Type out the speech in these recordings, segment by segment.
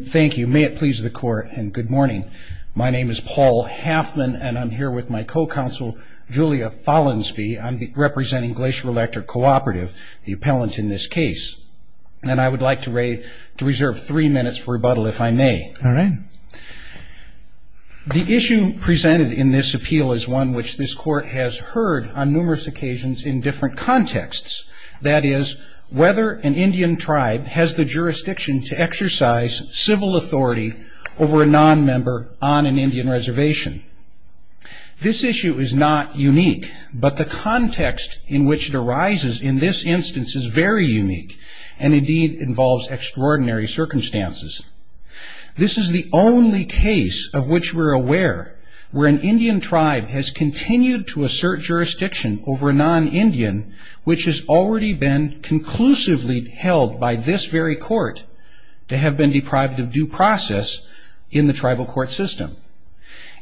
Thank you. May it please the court and good morning. My name is Paul Haffman and I'm here with my co-counsel Julia Follansbee. I'm representing Glacier Electric Cooperative, the appellant in this case. And I would like to reserve three minutes for rebuttal if I may. All right. The issue presented in this appeal is one which this court has heard on numerous occasions in different contexts. That is, whether an Indian tribe has the jurisdiction to exercise civil authority over a non-member on an Indian reservation. This issue is not unique, but the context in which it arises in this instance is very unique and indeed involves extraordinary circumstances. This is the only case of which we're aware where an Indian tribe has continued to assert jurisdiction over a non-Indian which has already been conclusively held by this very court to have been deprived of due process in the tribal court system.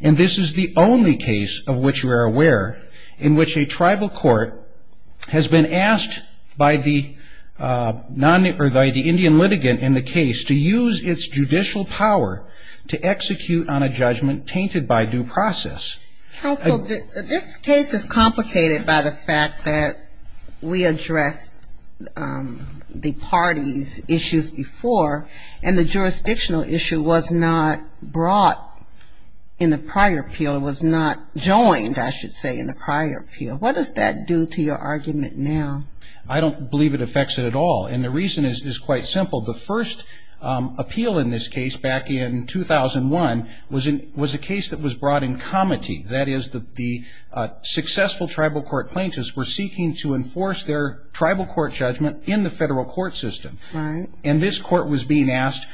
And this is the only case of which we are aware in which a tribal court has been asked by the Indian litigant in the case to use its judicial power to execute on a judgment tainted by due process. Counsel, this case is complicated by the fact that we addressed the parties' issues before, and the jurisdictional issue was not brought in the prior appeal. It was not joined, I should say, in the prior appeal. What does that do to your argument now? I don't believe it affects it at all, and the reason is quite simple. The first appeal in this case back in 2001 was a case that was brought in comity. That is, the successful tribal court plaintiffs were seeking to enforce their tribal court judgment in the federal court system. And this court was being asked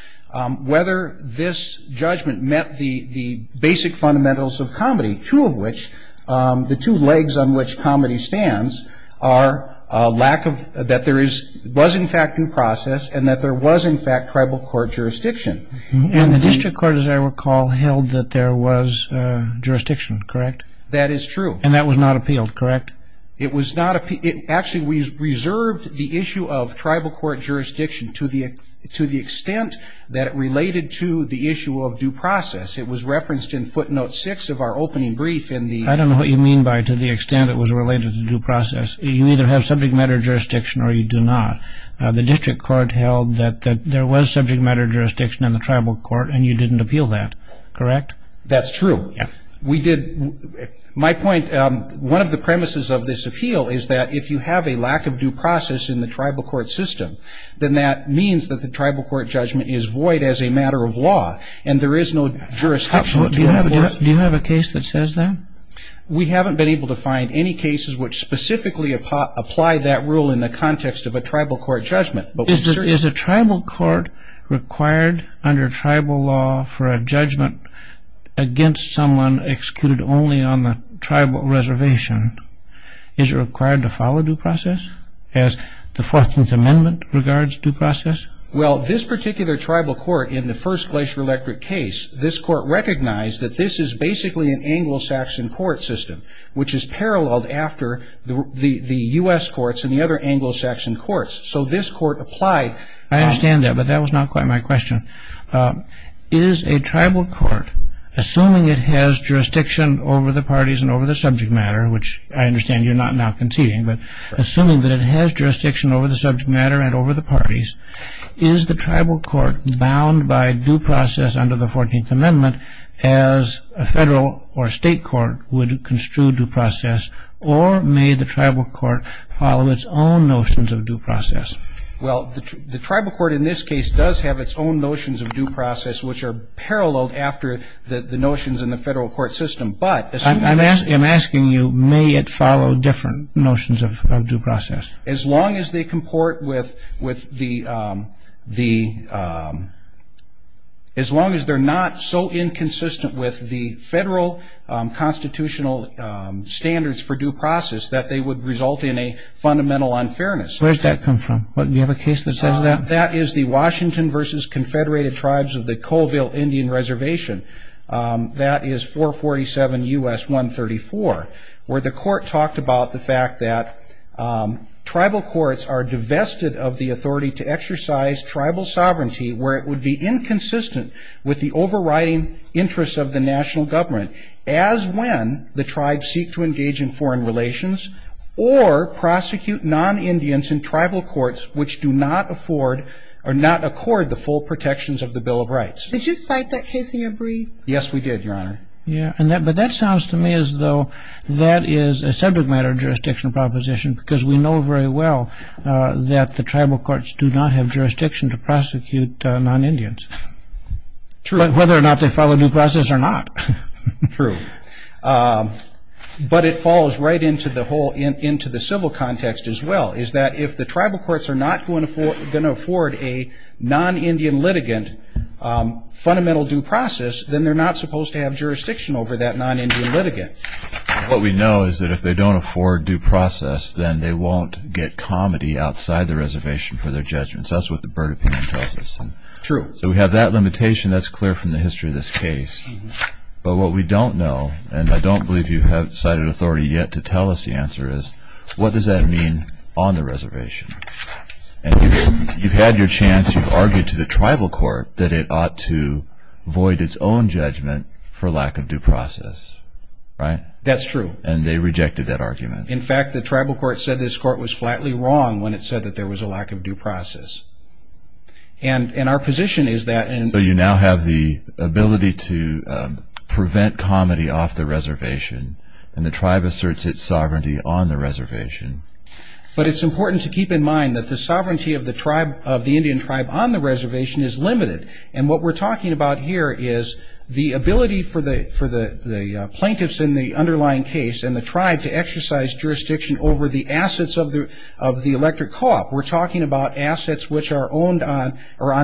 whether this judgment met the basic fundamentals of comity, two of which, the two legs on which comity stands, are that there was in fact due process and that there was in fact tribal court jurisdiction. And the district court, as I recall, held that there was jurisdiction, correct? That is true. And that was not appealed, correct? It was not appealed. Actually, we reserved the issue of tribal court jurisdiction to the extent that it related to the issue of due process. It was referenced in footnote six of our opening brief in the... I don't know what you mean by to the extent it was related to due process. You either have subject matter jurisdiction or you do not. The district court held that there was subject matter jurisdiction in the tribal court, and you didn't appeal that, correct? That's true. We did. My point, one of the premises of this appeal is that if you have a lack of due process in the tribal court system, then that means that the tribal court judgment is void as a matter of law, and there is no jurisdiction to enforce. Do you have a case that says that? We haven't been able to find any cases which specifically apply that rule in the context of a tribal court judgment. Is a tribal court required under tribal law for a judgment against someone executed only on the tribal reservation? Is it required to follow due process as the 14th Amendment regards due process? Well, this particular tribal court in the first Glacier Electric case, this court recognized that this is basically an Anglo-Saxon court system, which is paralleled after the U.S. courts and the other Anglo-Saxon courts. So this court applied... I understand that, but that was not quite my question. Is a tribal court, assuming it has jurisdiction over the parties and over the subject matter, which I understand you're not now conceding, but assuming that it has jurisdiction over the subject matter and over the parties, is the tribal court bound by due process under the 14th Amendment as a federal or state court would construe due process, or may the tribal court follow its own notions of due process? Well, the tribal court in this case does have its own notions of due process, which are paralleled after the notions in the federal court system, but... I'm asking you, may it follow different notions of due process? As long as they comport with the... as long as they're not so inconsistent with the federal constitutional standards for due process that they would result in a fundamental unfairness. Where's that come from? Do you have a case that says that? That is the Washington v. Confederated Tribes of the Colville Indian Reservation. That is 447 U.S. 134, where the court talked about the fact that tribal courts are divested of the authority to exercise tribal sovereignty where it would be inconsistent with the overriding interests of the national government, as when the tribes seek to engage in foreign relations or prosecute non-Indians in the United States. That is in tribal courts which do not afford or not accord the full protections of the Bill of Rights. Did you cite that case in your brief? Yes, we did, Your Honor. Yeah, but that sounds to me as though that is a separate matter of jurisdictional proposition, because we know very well that the tribal courts do not have jurisdiction to prosecute non-Indians. True. Whether or not they follow due process or not. True. But it falls right into the civil context as well, is that if the tribal courts are not going to afford a non-Indian litigant fundamental due process, then they're not supposed to have jurisdiction over that non-Indian litigant. What we know is that if they don't afford due process, then they won't get comity outside the reservation for their judgments. That's what the Burt opinion tells us. True. So we have that limitation. That's clear from the history of this case. But what we don't know, and I don't believe you have cited authority yet to tell us the answer, is what does that mean on the reservation? And you've had your chance. You've argued to the tribal court that it ought to void its own judgment for lack of due process, right? That's true. And they rejected that argument. In fact, the tribal court said this court was flatly wrong when it said that there was a lack of due process. And our position is that... So you now have the ability to prevent comity off the reservation, and the tribe asserts its sovereignty on the reservation. But it's important to keep in mind that the sovereignty of the Indian tribe on the reservation is limited. And what we're talking about here is the ability for the plaintiffs in the underlying case and the tribe to exercise jurisdiction over the assets of the electric co-op. We're talking about assets which are owned on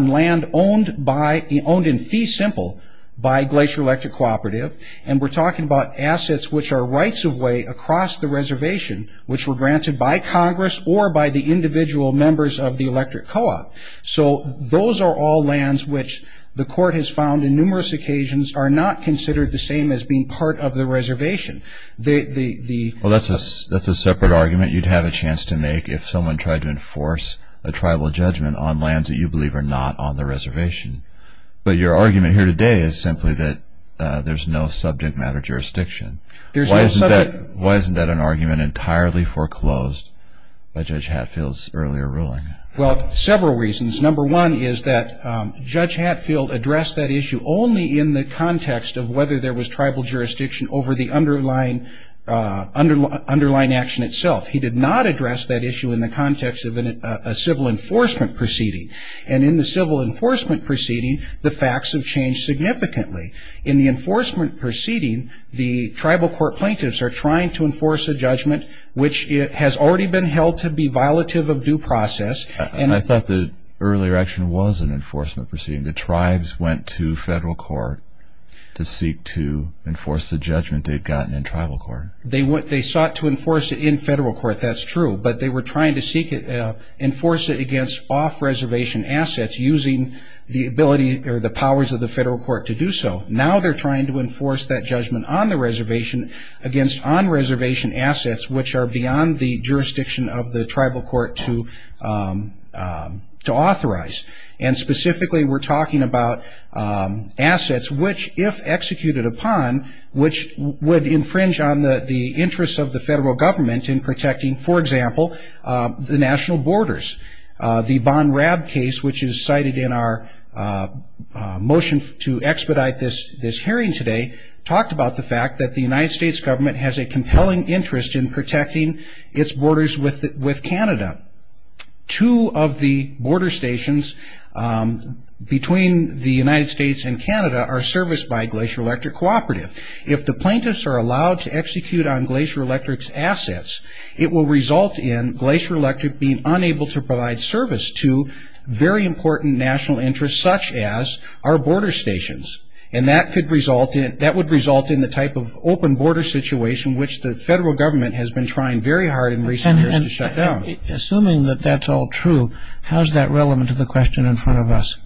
land owned in fee simple by Glacier Electric Cooperative, and we're talking about assets which are rights-of-way across the reservation, which were granted by Congress or by the individual members of the electric co-op. So those are all lands which the court has found in numerous occasions are not considered the same as being part of the reservation. Well, that's a separate argument you'd have a chance to make if someone tried to enforce a tribal judgment on lands that you believe are not on the reservation. But your argument here today is simply that there's no subject matter jurisdiction. Why isn't that an argument entirely foreclosed by Judge Hatfield's earlier ruling? Well, several reasons. Number one is that Judge Hatfield addressed that issue only in the context of whether there was tribal jurisdiction over the underlying action itself. He did not address that issue in the context of a civil enforcement proceeding. And in the civil enforcement proceeding, the facts have changed significantly. In the enforcement proceeding, the tribal court plaintiffs are trying to enforce a judgment which has already been held to be violative of due process. And I thought the earlier action was an enforcement proceeding. The tribes went to federal court to seek to enforce the judgment they'd gotten in tribal court. They sought to enforce it in federal court, that's true. But they were trying to enforce it against off-reservation assets using the ability or the powers of the federal court to do so. Now they're trying to enforce that judgment on the reservation against on-reservation assets, which are beyond the jurisdiction of the tribal court to authorize. And specifically we're talking about assets which, if executed upon, which would infringe on the interests of the federal government in protecting, for example, the national borders. The Von Raab case, which is cited in our motion to expedite this hearing today, talked about the fact that the United States government has a compelling interest in protecting its borders with Canada. Two of the border stations between the United States and Canada are serviced by Glacier Electric Cooperative. If the plaintiffs are allowed to execute on Glacier Electric's assets, it will result in Glacier Electric being unable to provide service to very important national interests such as our border stations. And that would result in the type of open border situation which the federal government has been trying very hard in recent years to shut down. Assuming that that's all true, how is that relevant to the question in front of us?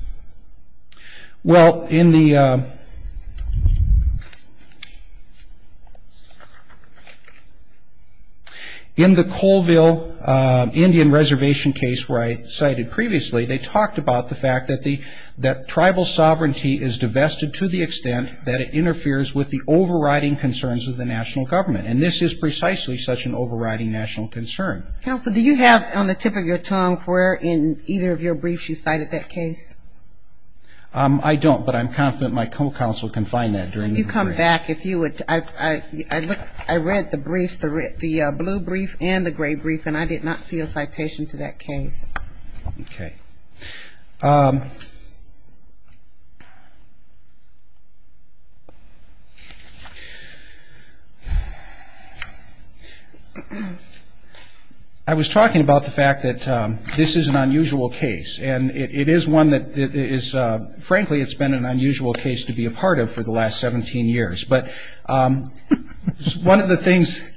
Well, in the Colville Indian Reservation case where I cited previously, they talked about the fact that tribal sovereignty is divested to the extent that it interferes with the overriding concerns of the national government. And this is precisely such an overriding national concern. Counsel, do you have on the tip of your tongue where in either of your briefs you cited that case? I don't, but I'm confident my co-counsel can find that. You come back if you would. I read the briefs, the blue brief and the gray brief, and I did not see a citation to that case. Okay. I was talking about the fact that this is an unusual case. And it is one that is, frankly, it's been an unusual case to be a part of for the last 17 years. But one of the things,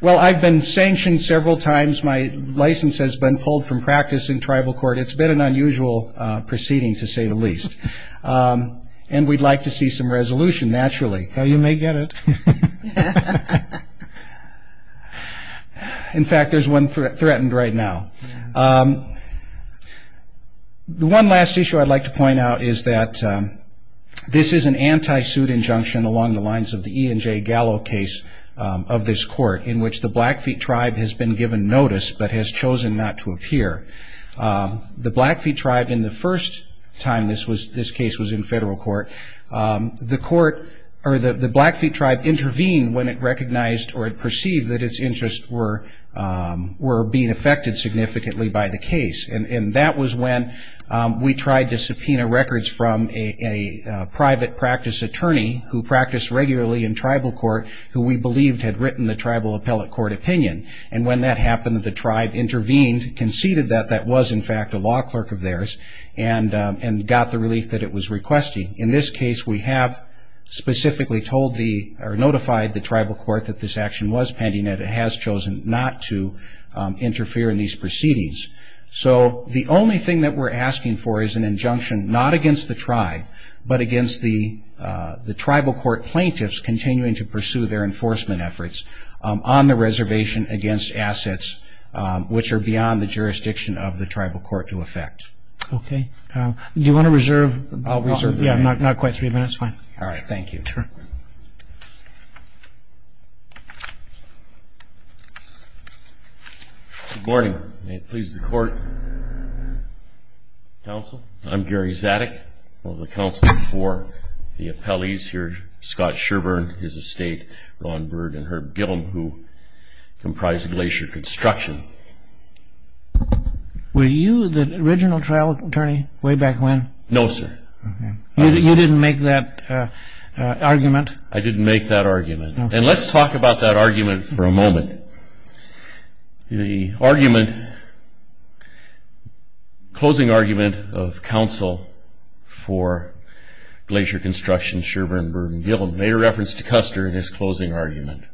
well, I've been sanctioned several times. My license has been pulled from practice in tribal court. It's been an unusual proceeding, to say the least. And we'd like to see some resolution, naturally. You may get it. In fact, there's one threatened right now. The one last issue I'd like to point out is that this is an anti-suit injunction along the lines of the E. and J. Gallo case of this court in which the Blackfeet tribe has been given notice but has chosen not to appear. The Blackfeet tribe, in the first time this case was in federal court, the Blackfeet tribe intervened when it recognized or perceived that its interests were being affected significantly by the case. And that was when we tried to subpoena records from a private practice attorney who practiced regularly in tribal court who we believed had written the tribal appellate court opinion. And when that happened, the tribe intervened, conceded that that was, in fact, a law clerk of theirs, and got the relief that it was requesting. In this case, we have specifically notified the tribal court that this action was pending and it has chosen not to interfere in these proceedings. So the only thing that we're asking for is an injunction not against the tribe but against the tribal court plaintiffs continuing to pursue their enforcement efforts on the reservation against assets which are beyond the jurisdiction of the tribal court to affect. Okay. Do you want to reserve? I'll reserve. Yeah, not quite three minutes. Fine. All right. Thank you. Sure. Good morning. May it please the court. Counsel, I'm Gary Zadig, one of the counsels for the appellees here. Scott Sherburn, his estate, Ron Bird, and Herb Gillum, who comprise Glacier Construction. Were you the original trial attorney way back when? No, sir. Okay. You didn't make that argument? I didn't make that argument. And let's talk about that argument for a moment. The closing argument of counsel for Glacier Construction, Sherburn, Bird, and Gillum made a reference to Custer in his closing argument.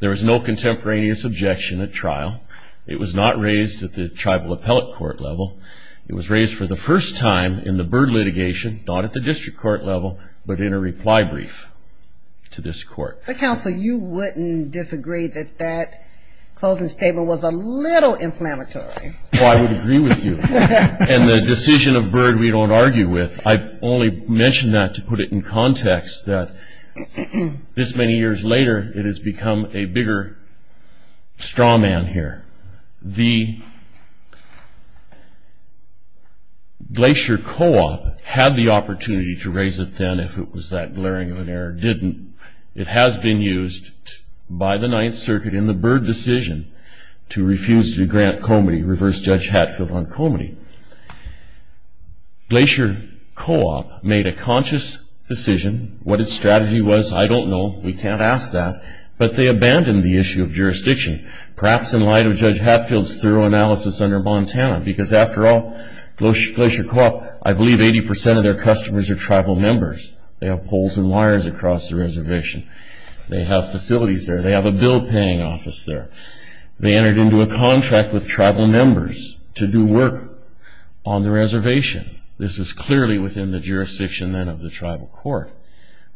There was no contemporaneous objection at trial. It was not raised at the tribal appellate court level. It was raised for the first time in the Bird litigation, not at the district court level, but in a reply brief to this court. But, counsel, you wouldn't disagree that that closing statement was a little inflammatory. Oh, I would agree with you. And the decision of Bird we don't argue with. I only mention that to put it in context that this many years later it has become a bigger straw man here. The Glacier Co-op had the opportunity to raise it then if it was that glaring of an error. It didn't. It has been used by the Ninth Circuit in the Bird decision to refuse to grant Comity, reverse judge Hatfield on Comity. Glacier Co-op made a conscious decision. What its strategy was, I don't know. But they abandoned the issue of jurisdiction. Perhaps in light of Judge Hatfield's thorough analysis under Montana, because after all, Glacier Co-op, I believe 80% of their customers are tribal members. They have poles and wires across the reservation. They have facilities there. They have a bill paying office there. They entered into a contract with tribal members to do work on the reservation. This is clearly within the jurisdiction then of the tribal court.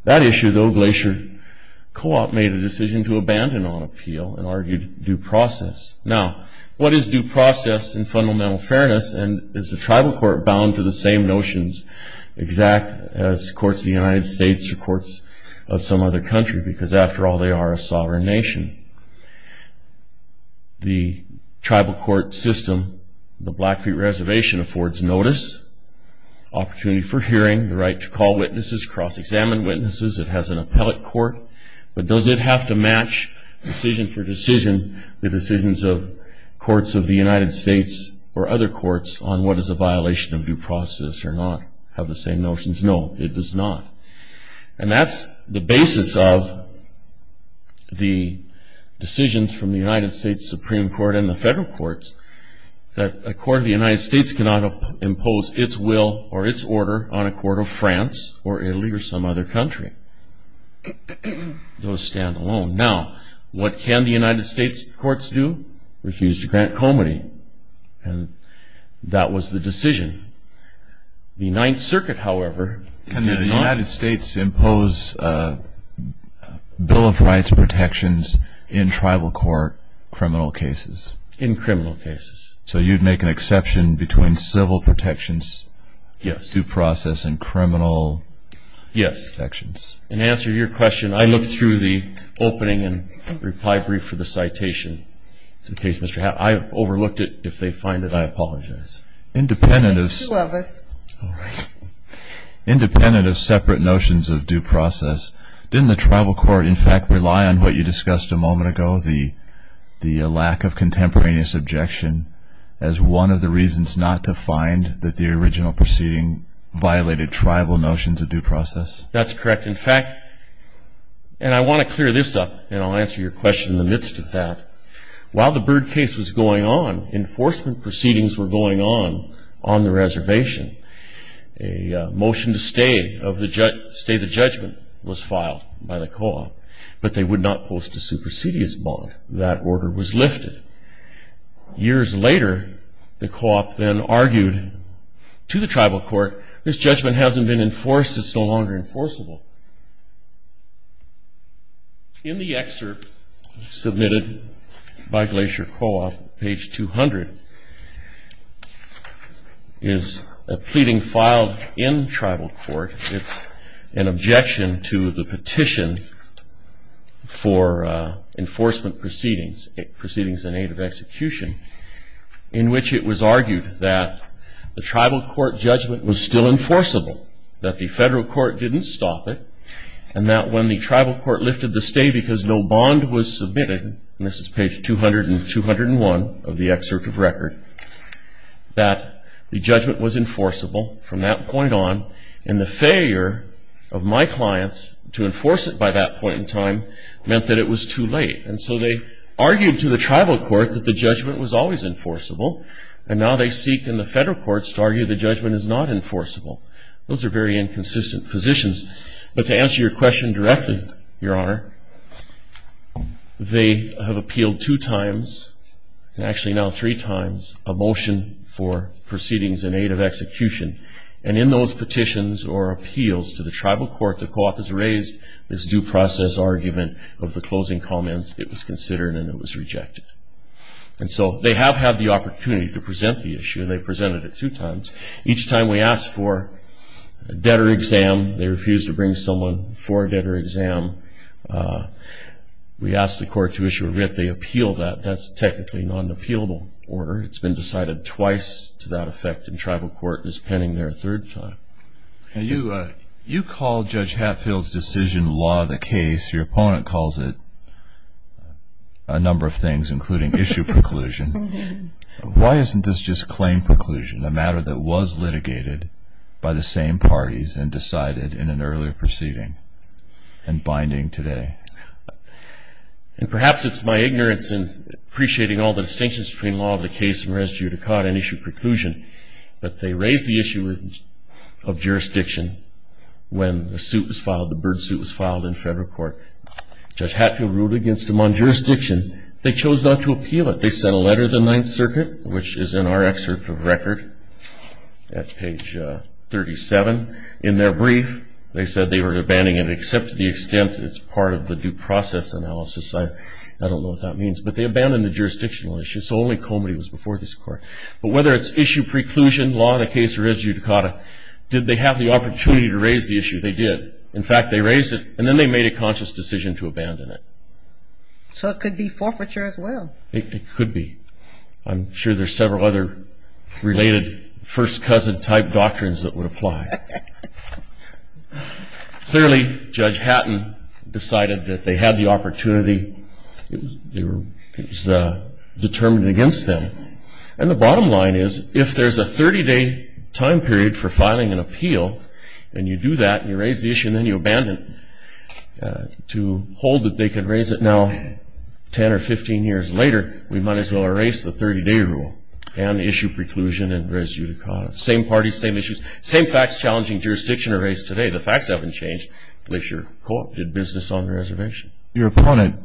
That issue, though, Glacier Co-op made a decision to abandon on appeal and argued due process. Now, what is due process in fundamental fairness, and is the tribal court bound to the same notions exact as courts of the United States or courts of some other country? Because after all, they are a sovereign nation. The tribal court system, the Blackfeet Reservation, affords notice, opportunity for hearing, the right to call witnesses, cross-examine witnesses. It has an appellate court. But does it have to match decision for decision the decisions of courts of the United States or other courts on what is a violation of due process or not have the same notions? No, it does not. And that's the basis of the decisions from the United States Supreme Court and the federal courts that a court of the United States cannot impose its will or its order on a court of France or Italy or some other country. Those stand alone. Now, what can the United States courts do? Refuse to grant comity. And that was the decision. The Ninth Circuit, however, did not. Can the United States impose a bill of rights protections in tribal court criminal cases? In criminal cases. So you'd make an exception between civil protections, due process, and criminal protections? Yes. In answer to your question, I looked through the opening and reply brief for the citation. I overlooked it. If they find it, I apologize. Independent of separate notions of due process, didn't the tribal court, in fact, rely on what you discussed a moment ago, the lack of contemporaneous objection, as one of the reasons not to find that the original proceeding violated tribal notions of due process? That's correct. In fact, and I want to clear this up, and I'll answer your question in the midst of that. While the Byrd case was going on, enforcement proceedings were going on on the reservation. But they would not post a supersedious bond. That order was lifted. Years later, the co-op then argued to the tribal court, this judgment hasn't been enforced, it's no longer enforceable. In the excerpt submitted by Glacier Co-op, page 200, is a pleading filed in tribal court. It's an objection to the petition for enforcement proceedings, proceedings in aid of execution, in which it was argued that the tribal court judgment was still enforceable, that the federal court didn't stop it, and that when the tribal court lifted the stay because no bond was submitted, and this is page 200 and 201 of the excerpt of record, that the judgment was enforceable from that point on. And the failure of my clients to enforce it by that point in time meant that it was too late. And so they argued to the tribal court that the judgment was always enforceable, and now they seek in the federal courts to argue the judgment is not enforceable. Those are very inconsistent positions. But to answer your question directly, Your Honor, they have appealed two times, and actually now three times, a motion for proceedings in aid of execution. And in those petitions or appeals to the tribal court, the co-op has raised this due process argument of the closing comments. It was considered and it was rejected. And so they have had the opportunity to present the issue. They presented it two times. Each time we asked for a debtor exam, they refused to bring someone for a debtor exam. We asked the court to issue a writ. They appealed that. That's technically not an appealable order. It's been decided twice to that effect, and tribal court is pending their third time. You call Judge Hatfield's decision law of the case. Your opponent calls it a number of things, including issue preclusion. Why isn't this just claim preclusion, a matter that was litigated by the same parties and decided in an earlier proceeding and binding today? And perhaps it's my ignorance in appreciating all the distinctions between law of the case and res judicata and issue preclusion, but they raised the issue of jurisdiction when the suit was filed, the bird suit was filed in federal court. Judge Hatfield ruled against them on jurisdiction. They chose not to appeal it. They sent a letter to the Ninth Circuit, which is in our excerpt of record at page 37. In their brief, they said they were abandoning it except to the extent it's part of the due process analysis. I don't know what that means, but they abandoned the jurisdictional issue, so only Comody was before this court. But whether it's issue preclusion, law of the case, or res judicata, did they have the opportunity to raise the issue? They did. In fact, they raised it, and then they made a conscious decision to abandon it. So it could be forfeiture as well. It could be. I'm sure there's several other related first cousin-type doctrines that would apply. Clearly, Judge Hatton decided that they had the opportunity. It was determined against them. And the bottom line is, if there's a 30-day time period for filing an appeal and you do that and you raise the issue and then you abandon it to hold that they can raise it now 10 or 15 years later, we might as well erase the 30-day rule and issue preclusion and res judicata. Same parties, same issues, same facts challenging jurisdiction to raise today. The facts haven't changed. At least your court did business on the reservation. Your opponent,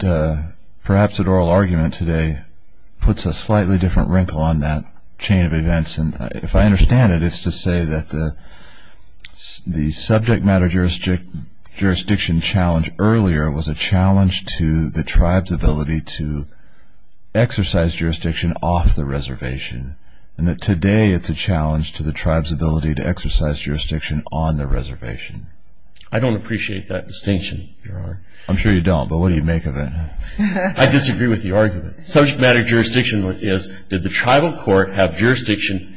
perhaps at oral argument today, puts a slightly different wrinkle on that chain of events. And if I understand it, it's to say that the subject matter jurisdiction challenge earlier was a challenge to the tribe's ability to exercise jurisdiction off the reservation and that today it's a challenge to the tribe's ability to exercise jurisdiction on the reservation. I don't appreciate that distinction, Your Honor. I'm sure you don't, but what do you make of it? I disagree with the argument. Subject matter jurisdiction is, did the tribal court have jurisdiction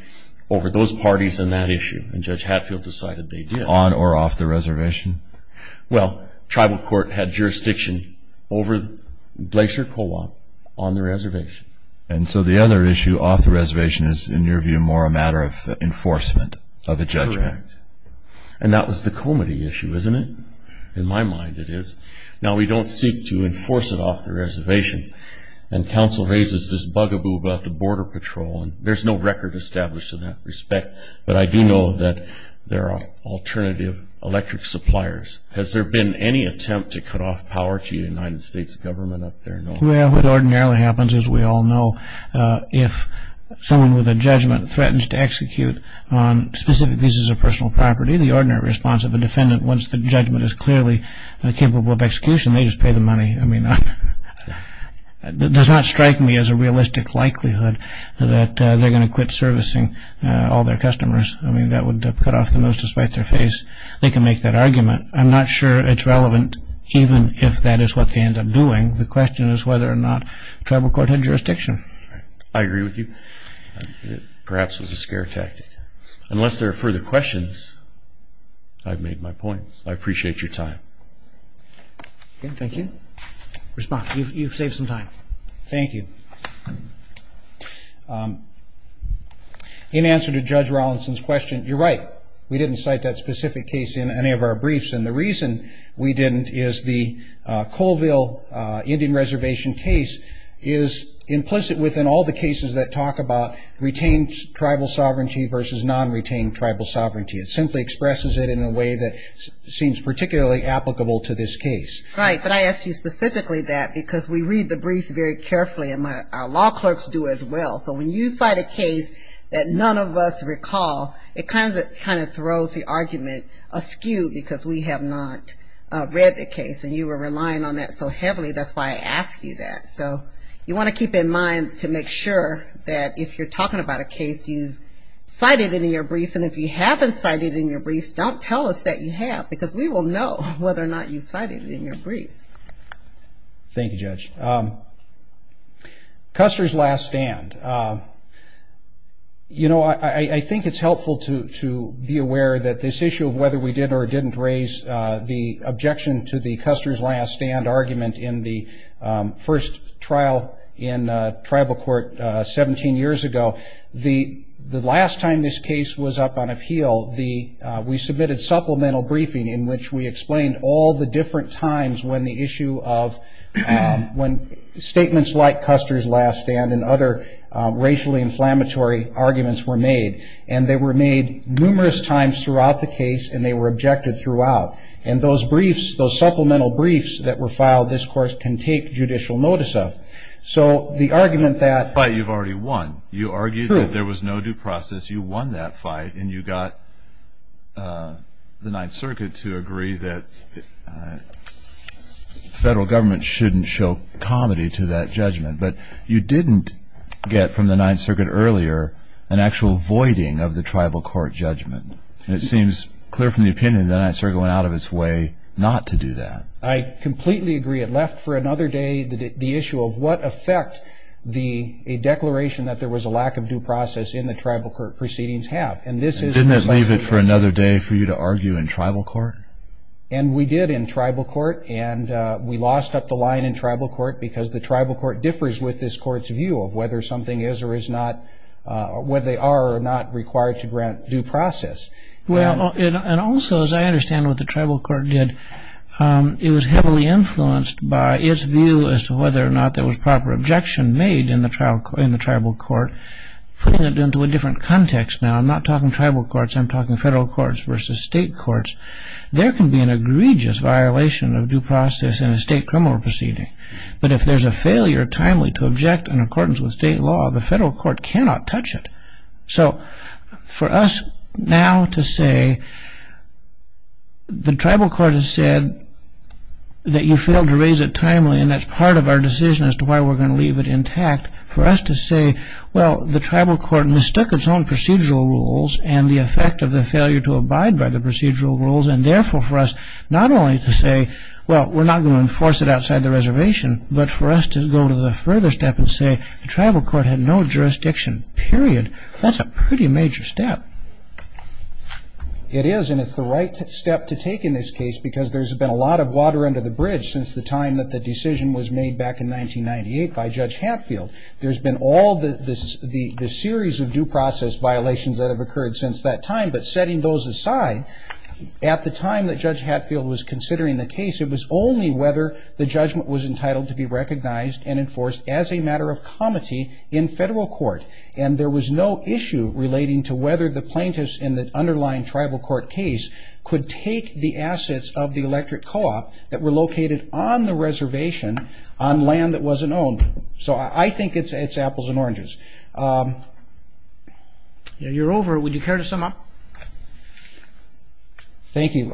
over those parties in that issue? And Judge Hatfield decided they did. On or off the reservation? Well, tribal court had jurisdiction over Glacier Co-op on the reservation. And so the other issue off the reservation is, in your view, more a matter of enforcement of a judgment. Correct. And that was the Comity issue, isn't it? In my mind it is. Now, we don't seek to enforce it off the reservation, and counsel raises this bugaboo about the Border Patrol, and there's no record established in that respect, but I do know that there are alternative electric suppliers. Has there been any attempt to cut off power to the United States government up there? Well, what ordinarily happens, as we all know, if someone with a judgment threatens to execute on specific pieces of personal property, the ordinary response of a defendant once the judgment is clearly capable of execution, they just pay the money. I mean, it does not strike me as a realistic likelihood that they're going to quit servicing all their customers. I mean, that would cut off the most despite their face. They can make that argument. I'm not sure it's relevant even if that is what they end up doing. The question is whether or not tribal court had jurisdiction. I agree with you. Perhaps it was a scare tactic. Unless there are further questions, I've made my point. I appreciate your time. Thank you. Respond. You've saved some time. Thank you. In answer to Judge Rawlinson's question, you're right. We didn't cite that specific case in any of our briefs, and the reason we didn't is the Colville Indian Reservation case is implicit within all the cases that talk about retained tribal sovereignty versus non-retained tribal sovereignty. It simply expresses it in a way that seems particularly applicable to this case. Right, but I ask you specifically that because we read the briefs very carefully, and our law clerks do as well. So when you cite a case that none of us recall, it kind of throws the argument askew because we have not read the case, and you were relying on that so heavily. That's why I ask you that. So you want to keep in mind to make sure that if you're talking about a case you've cited in your briefs and if you haven't cited it in your briefs, don't tell us that you have because we will know whether or not you cited it in your briefs. Thank you, Judge. Custer's last stand. You know, I think it's helpful to be aware that this issue of whether we did or didn't raise the objection to the Custer's last stand argument in the first trial in tribal court 17 years ago. The last time this case was up on appeal, we submitted supplemental briefing in which we explained all the different times when the issue of statements like Custer's last stand and other racially inflammatory arguments were made. And they were made numerous times throughout the case, and they were objected throughout. And those briefs, those supplemental briefs that were filed, this Court can take judicial notice of. So the argument that- But you've already won. You argued that there was no due process. You won that fight, and you got the Ninth Circuit to agree that federal government shouldn't show comedy to that judgment. But you didn't get from the Ninth Circuit earlier an actual voiding of the tribal court judgment. And it seems clear from the opinion that the Ninth Circuit went out of its way not to do that. I completely agree. It left for another day the issue of what effect a declaration that there was a lack of due process in the tribal court proceedings have. And this is- And didn't it leave it for another day for you to argue in tribal court? And we did in tribal court. And we lost up the line in tribal court because the tribal court differs with this court's view of whether something is or is not- whether they are or are not required to grant due process. Well, and also, as I understand what the tribal court did, it was heavily influenced by its view as to whether or not there was proper objection made in the tribal court. Putting it into a different context now, I'm not talking tribal courts. I'm talking federal courts versus state courts. There can be an egregious violation of due process in a state criminal proceeding. But if there's a failure timely to object in accordance with state law, the federal court cannot touch it. So for us now to say the tribal court has said that you failed to raise it timely and that's part of our decision as to why we're going to leave it intact, for us to say, well, the tribal court mistook its own procedural rules and the effect of the failure to abide by the procedural rules, and therefore for us not only to say, well, we're not going to enforce it outside the reservation, but for us to go to the further step and say the tribal court had no jurisdiction, period. That's a pretty major step. It is, and it's the right step to take in this case because there's been a lot of water under the bridge since the time that the decision was made back in 1998 by Judge Hatfield. There's been all the series of due process violations that have occurred since that time, but setting those aside, at the time that Judge Hatfield was considering the case, it was only whether the judgment was entitled to be recognized and enforced as a matter of comity in federal court. And there was no issue relating to whether the plaintiffs in the underlying tribal court case could take the assets of the electric co-op that were located on the reservation on land that wasn't owned. So I think it's apples and oranges. You're over. Would you care to sum up? Thank you.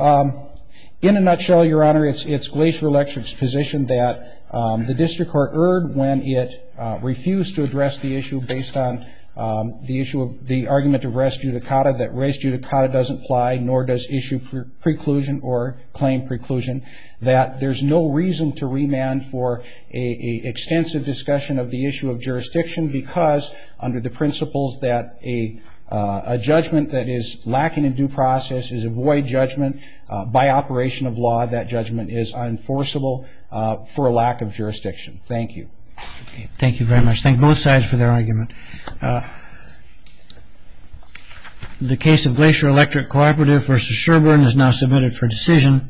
In a nutshell, Your Honor, it's Glacier Electric's position that the district court erred when it refused to address the issue based on the argument of res judicata, that res judicata doesn't apply, nor does issue preclusion or claim preclusion, that there's no reason to remand for an extensive discussion of the issue of jurisdiction because under the principles that a judgment that is lacking in due process is a void judgment, by operation of law that judgment is unenforceable for a lack of jurisdiction. Thank you. Thank you very much. Thank both sides for their argument. The case of Glacier Electric Cooperative v. Sherbourne is now submitted for decision.